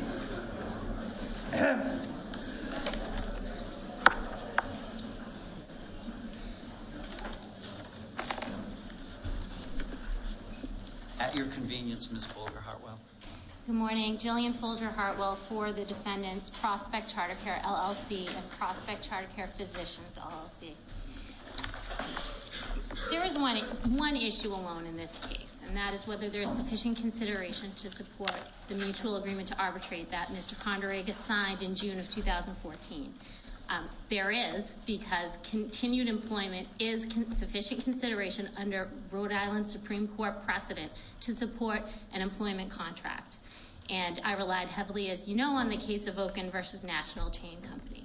At your convenience, Ms. Fulger-Hartwell. Good morning. Jillian Fulger-Hartwell for the defendants, Prospect CharterCARE LLC and Prospect CharterCARE Physicians LLC. There is one issue alone in this case, and that is whether there is sufficient consideration to support the mutual agreement to arbitrate that Mr. Conduragis signed in June of 2014. There is, because continued employment is sufficient consideration under Rhode Island Supreme Court precedent to support an employment contract. And I relied heavily, as you know, on the case of Okun v. National Chain Company.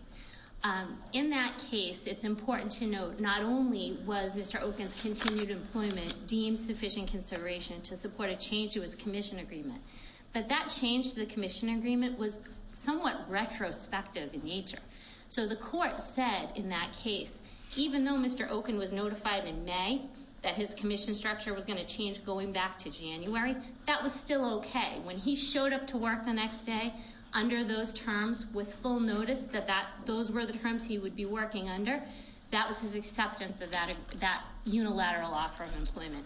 In that case, it's important to note, not only was Mr. Okun's continued employment deemed sufficient consideration to support a change to his commission agreement, but that change to the commission agreement was somewhat retrospective in nature. So the court said in that case, even though Mr. Okun was notified in May that his commission structure was going to change going back to January, that was still okay. When he showed up to work the next day under those terms with full notice that those were the terms he would be working under, that was his acceptance of that unilateral offer of employment.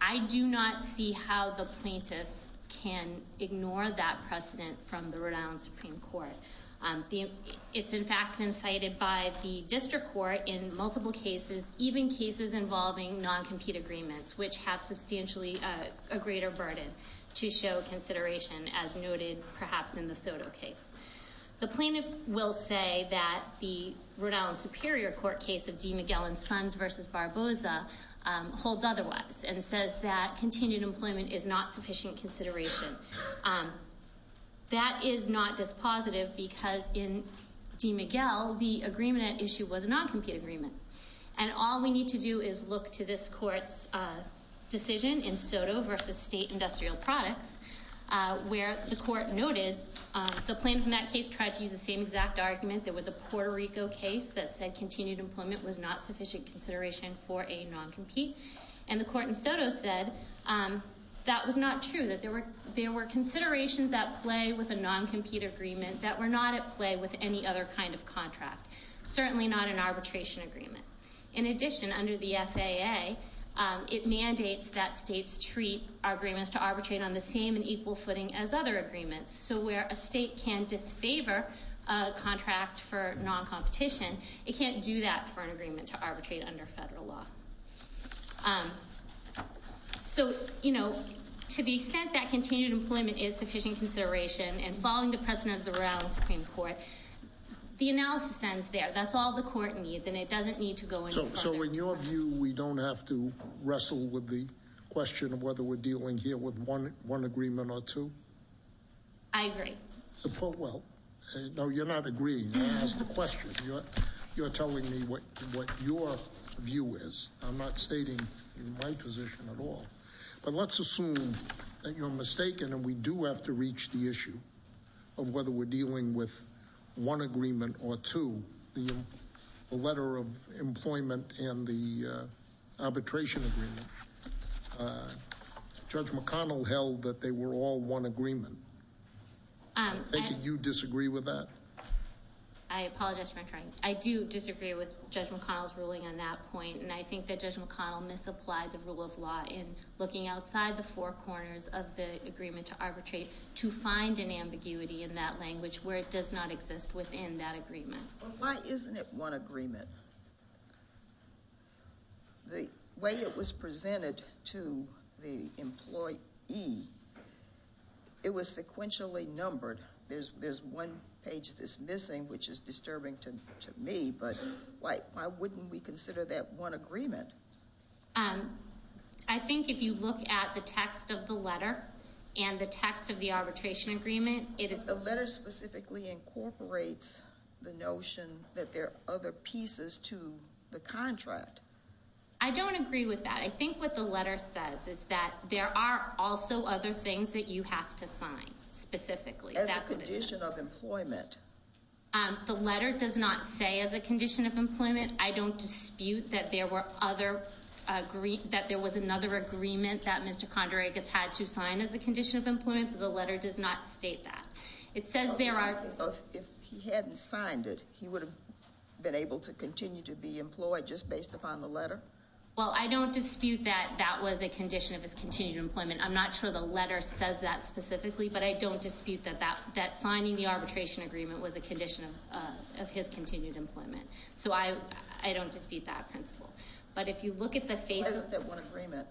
I do not see how the plaintiff can ignore that precedent from the Rhode Island Supreme Court. It's, in fact, been cited by the district court in multiple cases, even cases involving non-compete agreements, which have substantially a greater burden to show consideration, as noted perhaps in the Soto case. The plaintiff will say that the Rhode Island Superior Court case of DeMiguel and Sons v. Barboza holds otherwise, and says that continued employment is not sufficient consideration. That is not dispositive because in DeMiguel, the agreement at issue was a non-compete agreement, and all we need to do is look to this court's decision in Soto v. State Industrial Products, where the court noted the plaintiff in that case tried to use the same exact argument. There was a Puerto Rico case that said continued employment was not sufficient consideration for a non-compete, and the court in Soto said that was not true, that there were considerations at play with a non-compete agreement that were not at play with any other kind of contract, certainly not an arbitration agreement. In addition, under the FAA, it mandates that states treat agreements to arbitrate on the same and equal footing as other agreements, so where a state can disfavor a contract for non-competition, it can't do that for an agreement to arbitrate under federal law. So, you know, to the extent that continued employment is sufficient consideration, and following the precedent of the Royal Supreme Court, the analysis ends there. That's all the court needs, and it doesn't need to go any further. So in your view, we don't have to wrestle with the question of whether we're dealing here with one agreement or two? I agree. Well, no, you're not agreeing. That's the question. You're telling me what your view is. I'm not stating my position at all. But let's assume that you're mistaken and we do have to reach the issue of whether we're dealing with one agreement or two, the letter of employment and the arbitration agreement. Judge McConnell held that they were all one agreement. Do you disagree with that? I apologize for interrupting. I do disagree with Judge McConnell's ruling on that point, and I think that Judge McConnell misapplied the rule of law in looking outside the four corners of the agreement to arbitrate to find an ambiguity in that language where it does not exist within that agreement. Well, why isn't it one agreement? The way it was presented to the employee, it was sequentially numbered. There's one page that's missing, which is disturbing to me, but why wouldn't we consider that one agreement? I think if you look at the text of the letter and the text of the arbitration agreement, it is— specifically incorporates the notion that there are other pieces to the contract. I don't agree with that. I think what the letter says is that there are also other things that you have to sign, specifically. As a condition of employment. The letter does not say as a condition of employment. I don't dispute that there was another agreement that Mr. Condragas had to sign as a condition of employment, but the letter does not state that. It says there are— If he hadn't signed it, he would have been able to continue to be employed just based upon the letter? Well, I don't dispute that that was a condition of his continued employment. I'm not sure the letter says that specifically, but I don't dispute that signing the arbitration agreement was a condition of his continued employment. So I don't dispute that principle. But if you look at the face— Why is it that one agreement?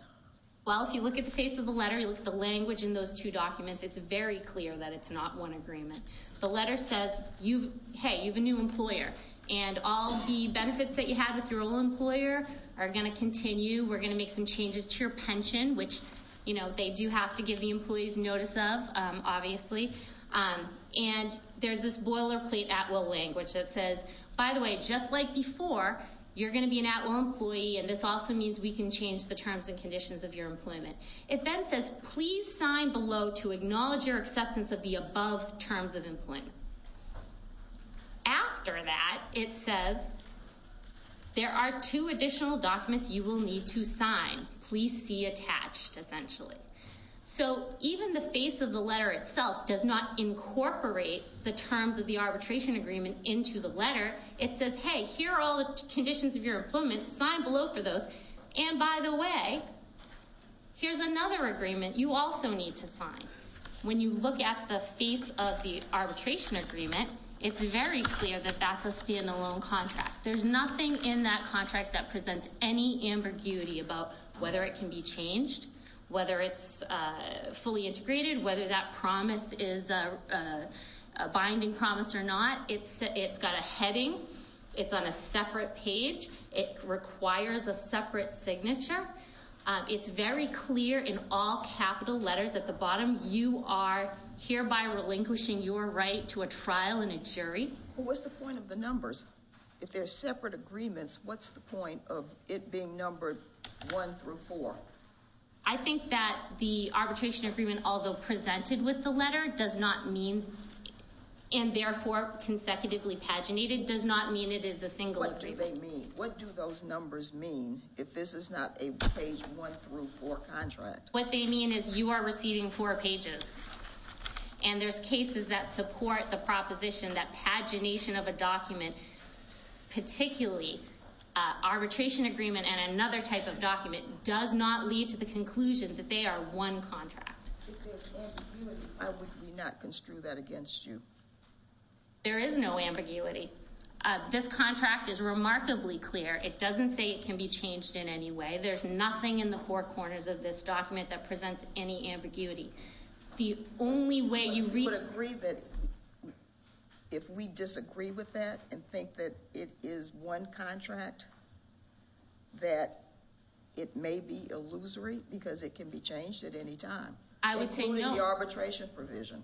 Well, if you look at the face of the letter, you look at the language in those two documents, it's very clear that it's not one agreement. The letter says, hey, you have a new employer, and all the benefits that you had with your old employer are going to continue. We're going to make some changes to your pension, which they do have to give the employees notice of, obviously. And there's this boilerplate at-will language that says, by the way, just like before, you're going to be an at-will employee, and this also means we can change the terms and conditions of your employment. It then says, please sign below to acknowledge your acceptance of the above terms of employment. After that, it says, there are two additional documents you will need to sign. Please see attached, essentially. So even the face of the letter itself does not incorporate the terms of the arbitration agreement into the letter. It says, hey, here are all the conditions of your employment. Sign below for those. And by the way, here's another agreement you also need to sign. When you look at the face of the arbitration agreement, it's very clear that that's a standalone contract. There's nothing in that contract that presents any ambiguity about whether it can be changed, whether it's fully integrated, whether that promise is a binding promise or not. It's got a heading. It's on a separate page. It requires a separate signature. It's very clear in all capital letters at the bottom, you are hereby relinquishing your right to a trial and a jury. Well, what's the point of the numbers? If they're separate agreements, what's the point of it being numbered one through four? I think that the arbitration agreement, although presented with the letter, does not mean and therefore consecutively paginated, does not mean it is a single agreement. What do they mean? What do those numbers mean if this is not a page one through four contract? What they mean is you are receiving four pages. And there's cases that support the proposition that pagination of a document, particularly arbitration agreement and another type of document, does not lead to the conclusion that they are one contract. If there's ambiguity, why would we not construe that against you? There is no ambiguity. This contract is remarkably clear. It doesn't say it can be changed in any way. There's nothing in the four corners of this document that presents any ambiguity. If we disagree with that and think that it is one contract, that it may be illusory because it can be changed at any time. I would say no. Including the arbitration provision.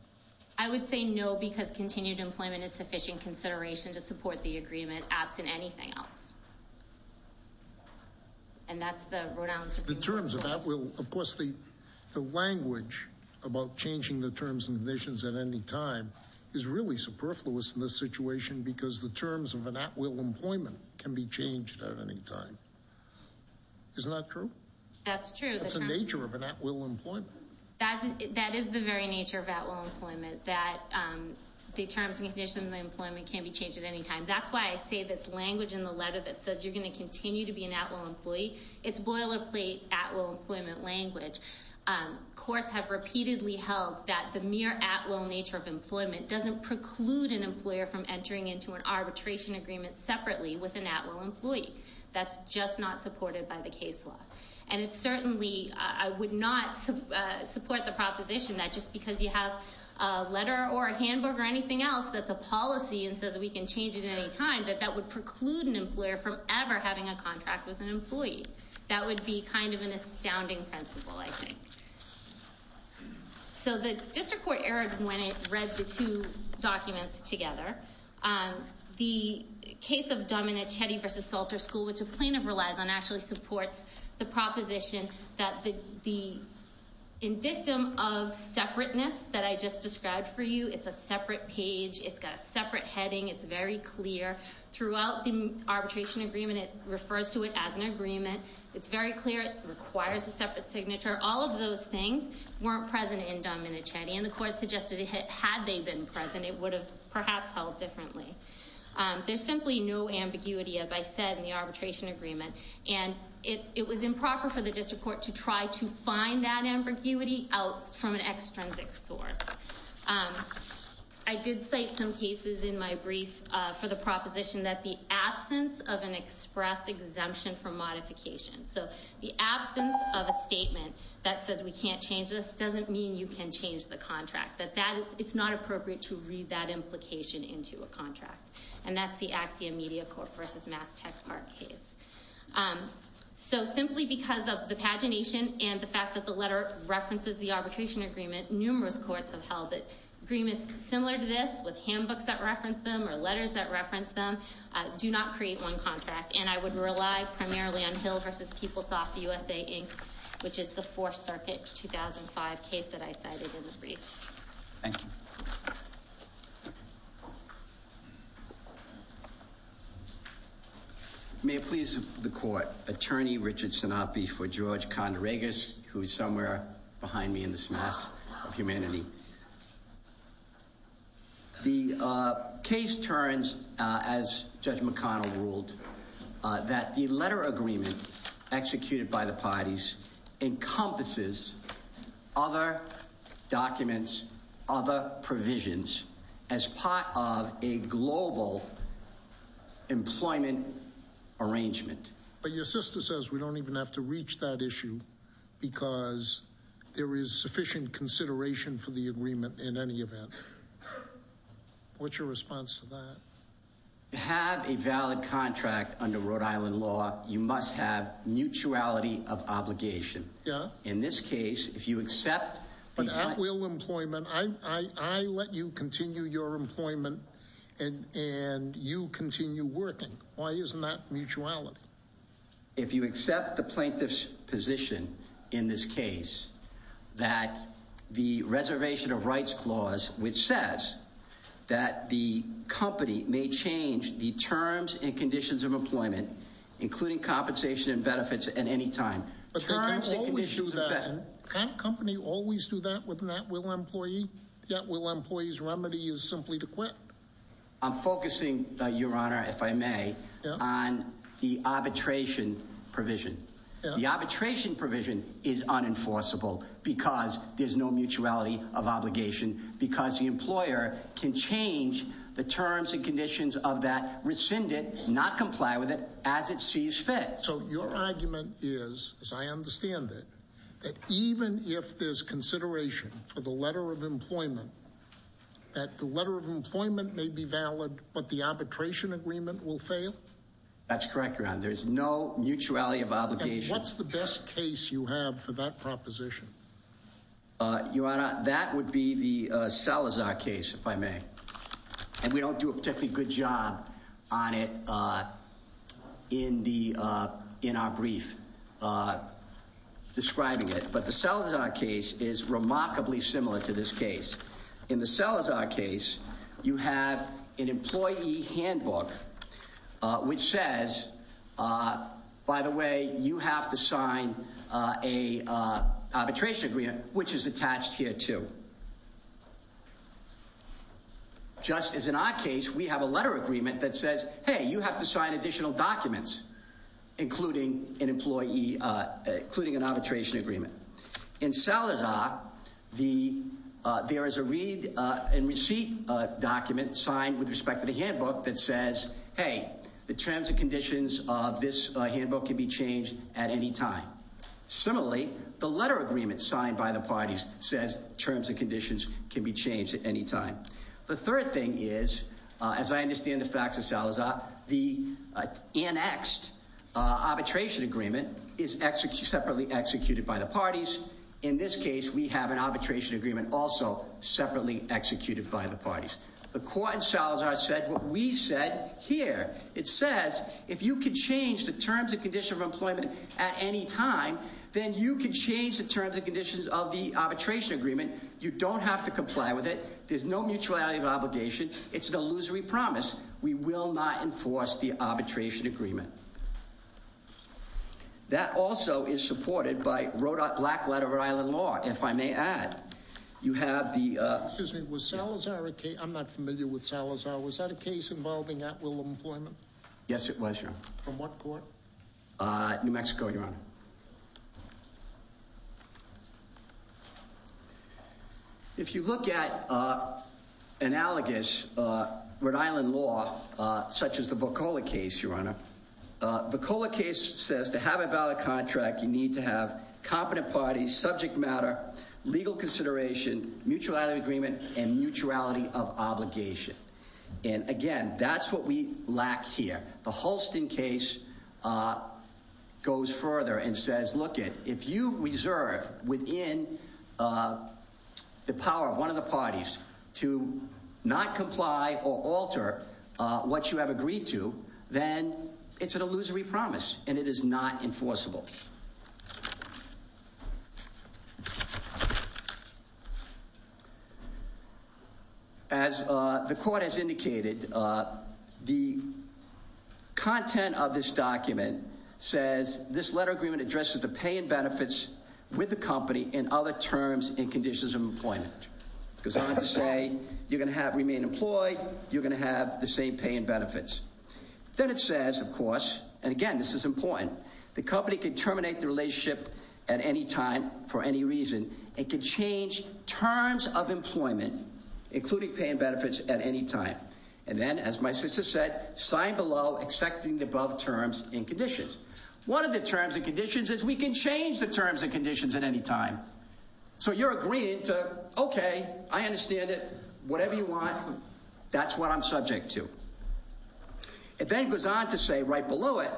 I would say no because continued employment is sufficient consideration to support the agreement, absent anything else. And that's the Rhode Island Supreme Court. The terms of at will. Of course, the language about changing the terms and conditions at any time is really superfluous in this situation because the terms of an at will employment can be changed at any time. Isn't that true? That's true. That's the nature of an at will employment. That is the very nature of at will employment, that the terms and conditions of employment can be changed at any time. That's why I say this language in the letter that says you're going to continue to be an at will employee. It's boilerplate at will employment language. Courts have repeatedly held that the mere at will nature of employment doesn't preclude an employer from entering into an arbitration agreement separately with an at will employee. That's just not supported by the case law. And it certainly, I would not support the proposition that just because you have a letter or a handbook or anything else that's a policy and says we can change it at any time, that that would preclude an employer from ever having a contract with an employee. That would be kind of an astounding principle, I think. So the district court errored when it read the two documents together. The case of Dominic Chetty v. Salter School, which a plaintiff relies on, actually supports the proposition that the indictum of separateness that I just described for you, it's a separate page, it's got a separate heading, it's very clear. Throughout the arbitration agreement, it refers to it as an agreement. It's very clear. It requires a separate signature. All of those things weren't present in Dominic Chetty. And the court suggested had they been present, it would have perhaps held differently. There's simply no ambiguity, as I said, in the arbitration agreement. And it was improper for the district court to try to find that ambiguity out from an extrinsic source. I did cite some cases in my brief for the proposition that the absence of an express exemption from modification. So the absence of a statement that says we can't change this doesn't mean you can change the contract. It's not appropriate to read that implication into a contract. And that's the Axia Media Corp. v. Mass Tech Park case. So simply because of the pagination and the fact that the letter references the arbitration agreement, numerous courts have held that agreements similar to this, with handbooks that reference them or letters that reference them, do not create one contract. And I would rely primarily on Hill v. PeopleSoft USA, Inc., which is the Fourth Circuit 2005 case that I cited in the brief. Thank you. May it please the court. Attorney Richard Sinopi for George Condragas, who is somewhere behind me in this mess of humanity. The case turns, as Judge McConnell ruled, that the letter agreement executed by the parties encompasses other documents, other provisions, as part of a global employment arrangement. But your sister says we don't even have to reach that issue because there is sufficient consideration for the agreement in any event. What's your response to that? To have a valid contract under Rhode Island law, you must have mutuality of obligation. Yeah. In this case, if you accept... I let you continue your employment and you continue working. Why isn't that mutuality? If you accept the plaintiff's position in this case that the Reservation of Rights Clause, which says that the company may change the terms and conditions of employment, including compensation and benefits at any time... Can't a company always do that with an at-will employee? The at-will employee's remedy is simply to quit. I'm focusing, Your Honor, if I may, on the arbitration provision. The arbitration provision is unenforceable because there's no mutuality of obligation, because the employer can change the terms and conditions of that, rescind it, not comply with it, as it sees fit. So your argument is, as I understand it, that even if there's consideration for the letter of employment, that the letter of employment may be valid, but the arbitration agreement will fail? That's correct, Your Honor. There's no mutuality of obligation. And what's the best case you have for that proposition? Your Honor, that would be the Salazar case, if I may. And we don't do a particularly good job on it in our brief describing it, but the Salazar case is remarkably similar to this case. In the Salazar case, you have an employee handbook, which says, by the way, you have to sign an arbitration agreement, which is attached here, too. Just as in our case, we have a letter agreement that says, hey, you have to sign additional documents, including an arbitration agreement. In Salazar, there is a read and receipt document signed with respect to the handbook that says, hey, the terms and conditions of this handbook can be changed at any time. Similarly, the letter agreement signed by the parties says terms and conditions can be changed at any time. The third thing is, as I understand the facts of Salazar, the annexed arbitration agreement is separately executed by the parties. In this case, we have an arbitration agreement also separately executed by the parties. The court in Salazar said what we said here. It says if you can change the terms and conditions of employment at any time, then you can change the terms and conditions of the arbitration agreement. You don't have to comply with it. There's no mutuality of obligation. It's an illusory promise. We will not enforce the arbitration agreement. That also is supported by Rhode Island Black Letter of Rhode Island Law. If I may add, you have the... Excuse me. Was Salazar a case... I'm not familiar with Salazar. Was that a case involving at-will employment? Yes, it was, Your Honor. From what court? New Mexico, Your Honor. If you look at analogous Rhode Island law, such as the Boccola case, Your Honor, the Boccola case says to have a valid contract, you need to have competent parties, subject matter, legal consideration, mutuality of agreement, and mutuality of obligation. And, again, that's what we lack here. The Hulston case goes further and says, look it, if you reserve within the power of one of the parties to not comply or alter what you have agreed to, then it's an illusory promise and it is not enforceable. As the court has indicated, the content of this document says this letter of agreement addresses the pay and benefits with the company in other terms and conditions of employment. It goes on to say you're going to remain employed, you're going to have the same pay and benefits. Then it says, of course, and again, this is important, the company can terminate the relationship at any time for any reason. It can change terms of employment, including pay and benefits, at any time. And then, as my sister said, sign below accepting the above terms and conditions. One of the terms and conditions is we can change the terms and conditions at any time. So you're agreeing to, okay, I understand it, whatever you want, that's what I'm subject to. It then goes on to say right below it,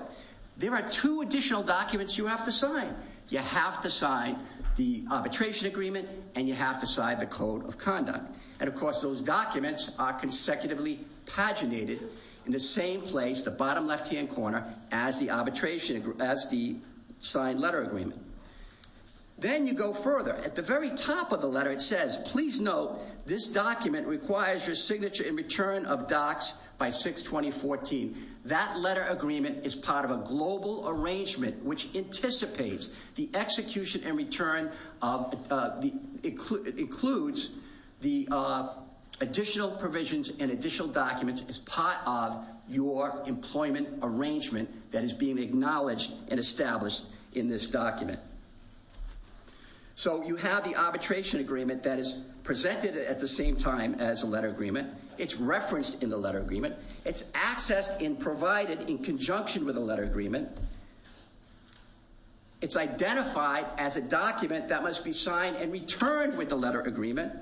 there are two additional documents you have to sign. You have to sign the arbitration agreement and you have to sign the code of conduct. And, of course, those documents are consecutively paginated in the same place, the bottom left-hand corner, as the arbitration, as the signed letter agreement. Then you go further. At the very top of the letter it says, please note, this document requires your signature and return of docs by 6-20-14. That letter agreement is part of a global arrangement which anticipates the execution and return of, includes the additional provisions and additional documents as part of your employment arrangement that is being acknowledged and established in this document. So you have the arbitration agreement that is presented at the same time as the letter agreement. It's referenced in the letter agreement. It's accessed and provided in conjunction with the letter agreement. It's identified as a document that must be signed and returned with the letter agreement.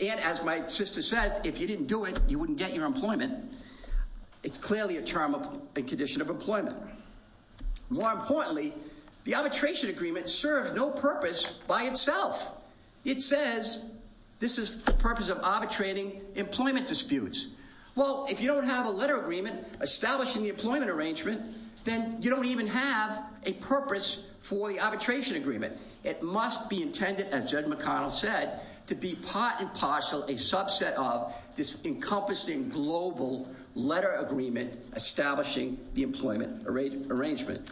And as my sister says, if you didn't do it, you wouldn't get your employment. It's clearly a term, a condition of employment. More importantly, the arbitration agreement serves no purpose by itself. It says this is the purpose of arbitrating employment disputes. Well, if you don't have a letter agreement establishing the employment arrangement, then you don't even have a purpose for the arbitration agreement. It must be intended, as Judge McConnell said, to be part and parcel a subset of this encompassing global letter agreement establishing the employment arrangement.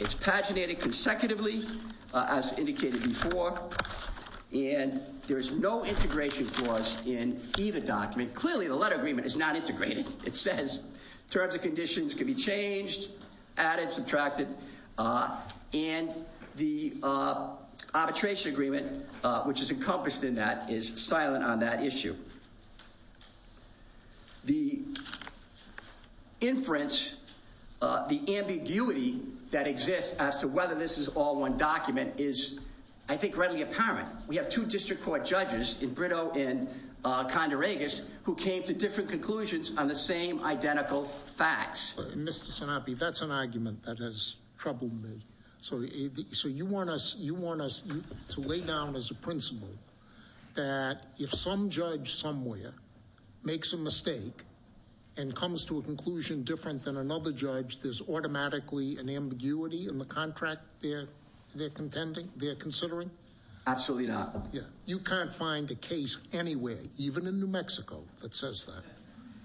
It's paginated consecutively, as indicated before. And there's no integration clause in either document. Clearly, the letter agreement is not integrated. It says terms and conditions can be changed, added, subtracted. And the arbitration agreement, which is encompassed in that, is silent on that issue. The inference, the ambiguity that exists as to whether this is all one document is, I think, readily apparent. We have two district court judges in Brito and Condo Regis who came to different conclusions on the same identical facts. Mr. Sinopoli, that's an argument that has troubled me. So you want us to lay down as a principle that if some judge somewhere makes a mistake and comes to a conclusion different than another judge, there's automatically an ambiguity in the contract they're considering? Absolutely not. You can't find a case anywhere, even in New Mexico, that says that.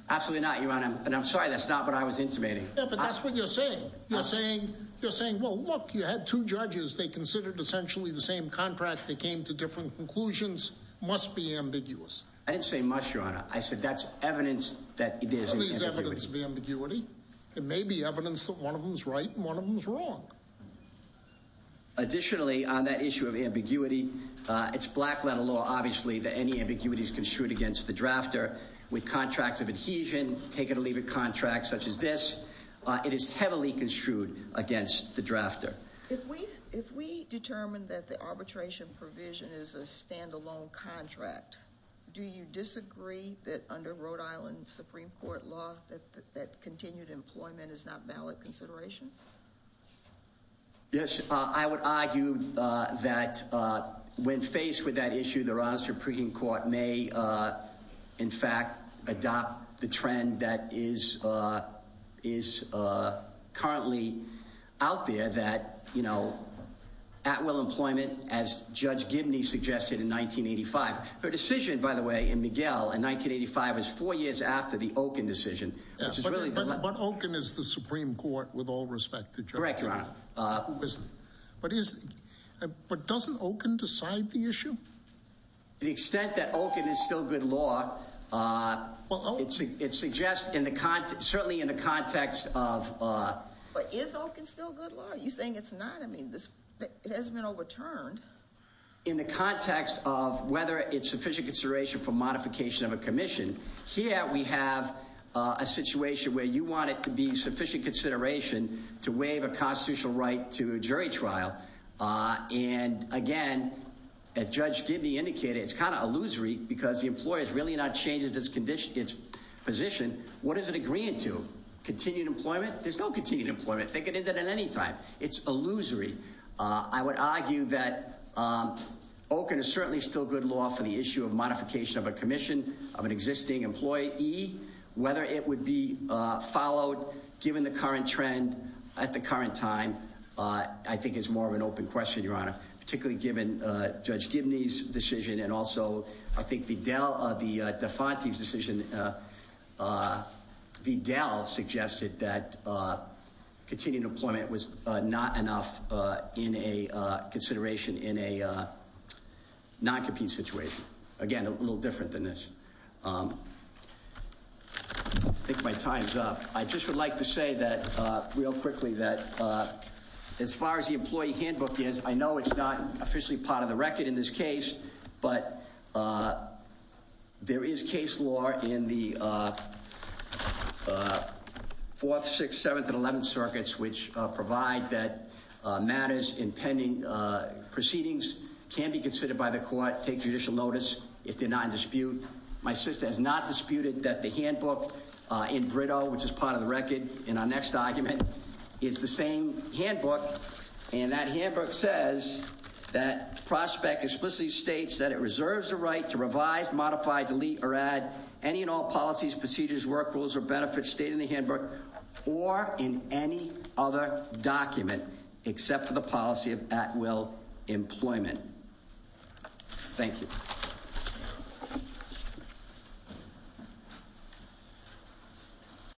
Absolutely not, Your Honor. And I'm sorry, that's not what I was intimating. Yeah, but that's what you're saying. You're saying, well, look, you had two judges. They considered essentially the same contract. They came to different conclusions. Must be ambiguous. I didn't say much, Your Honor. I said that's evidence that there's an ambiguity. Are these evidence of ambiguity? It may be evidence that one of them is right and one of them is wrong. Additionally, on that issue of ambiguity, it's black letter law, obviously, that any ambiguity is construed against the drafter. With contracts of adhesion, take it or leave it contracts such as this, it is heavily construed against the drafter. If we determine that the arbitration provision is a standalone contract, do you disagree that under Rhode Island Supreme Court law that continued employment is not valid consideration? Yes, I would argue that when faced with that issue, the Rhode Island Supreme Court may, in fact, adopt the trend that is currently out there that, you know, at will employment, as Judge Gibney suggested in 1985. Her decision, by the way, in Miguel in 1985 was four years after the Okun decision. But Okun is the Supreme Court with all respect to Judge Gibney. Correct, Your Honor. But doesn't Okun decide the issue? To the extent that Okun is still good law, it suggests certainly in the context of... But is Okun still good law? Are you saying it's not? I mean, it hasn't been overturned. In the context of whether it's sufficient consideration for modification of a commission, here we have a situation where you want it to be sufficient consideration to waive a constitutional right to jury trial. And again, as Judge Gibney indicated, it's kind of illusory because the employer is really not changing its position. What is it agreeing to? Continued employment? There's no continued employment. They could end it at any time. It's illusory. I would argue that Okun is certainly still good law for the issue of modification of a commission of an existing employee. Whether it would be followed, given the current trend at the current time, I think is more of an open question, Your Honor. Particularly given Judge Gibney's decision and also, I think, Vidal, the Defante's decision, Vidal suggested that continued employment was not enough in a consideration in a non-compete situation. Again, a little different than this. I think my time's up. I just would like to say that, real quickly, that as far as the employee handbook is, I know it's not officially part of the record in this case, but there is case law in the Fourth, Sixth, Seventh, and Eleventh Circuits, which provide that matters in pending proceedings can be considered by the court, take judicial notice if they're not in dispute. My sister has not disputed that the handbook in Brito, which is part of the record in our next argument, is the same handbook. And that handbook says that prospect explicitly states that it reserves the right to revise, modify, delete, or add any and all policies, procedures, work rules, or benefits stated in the handbook or in any other document except for the policy of at-will employment. Thank you. Thank you.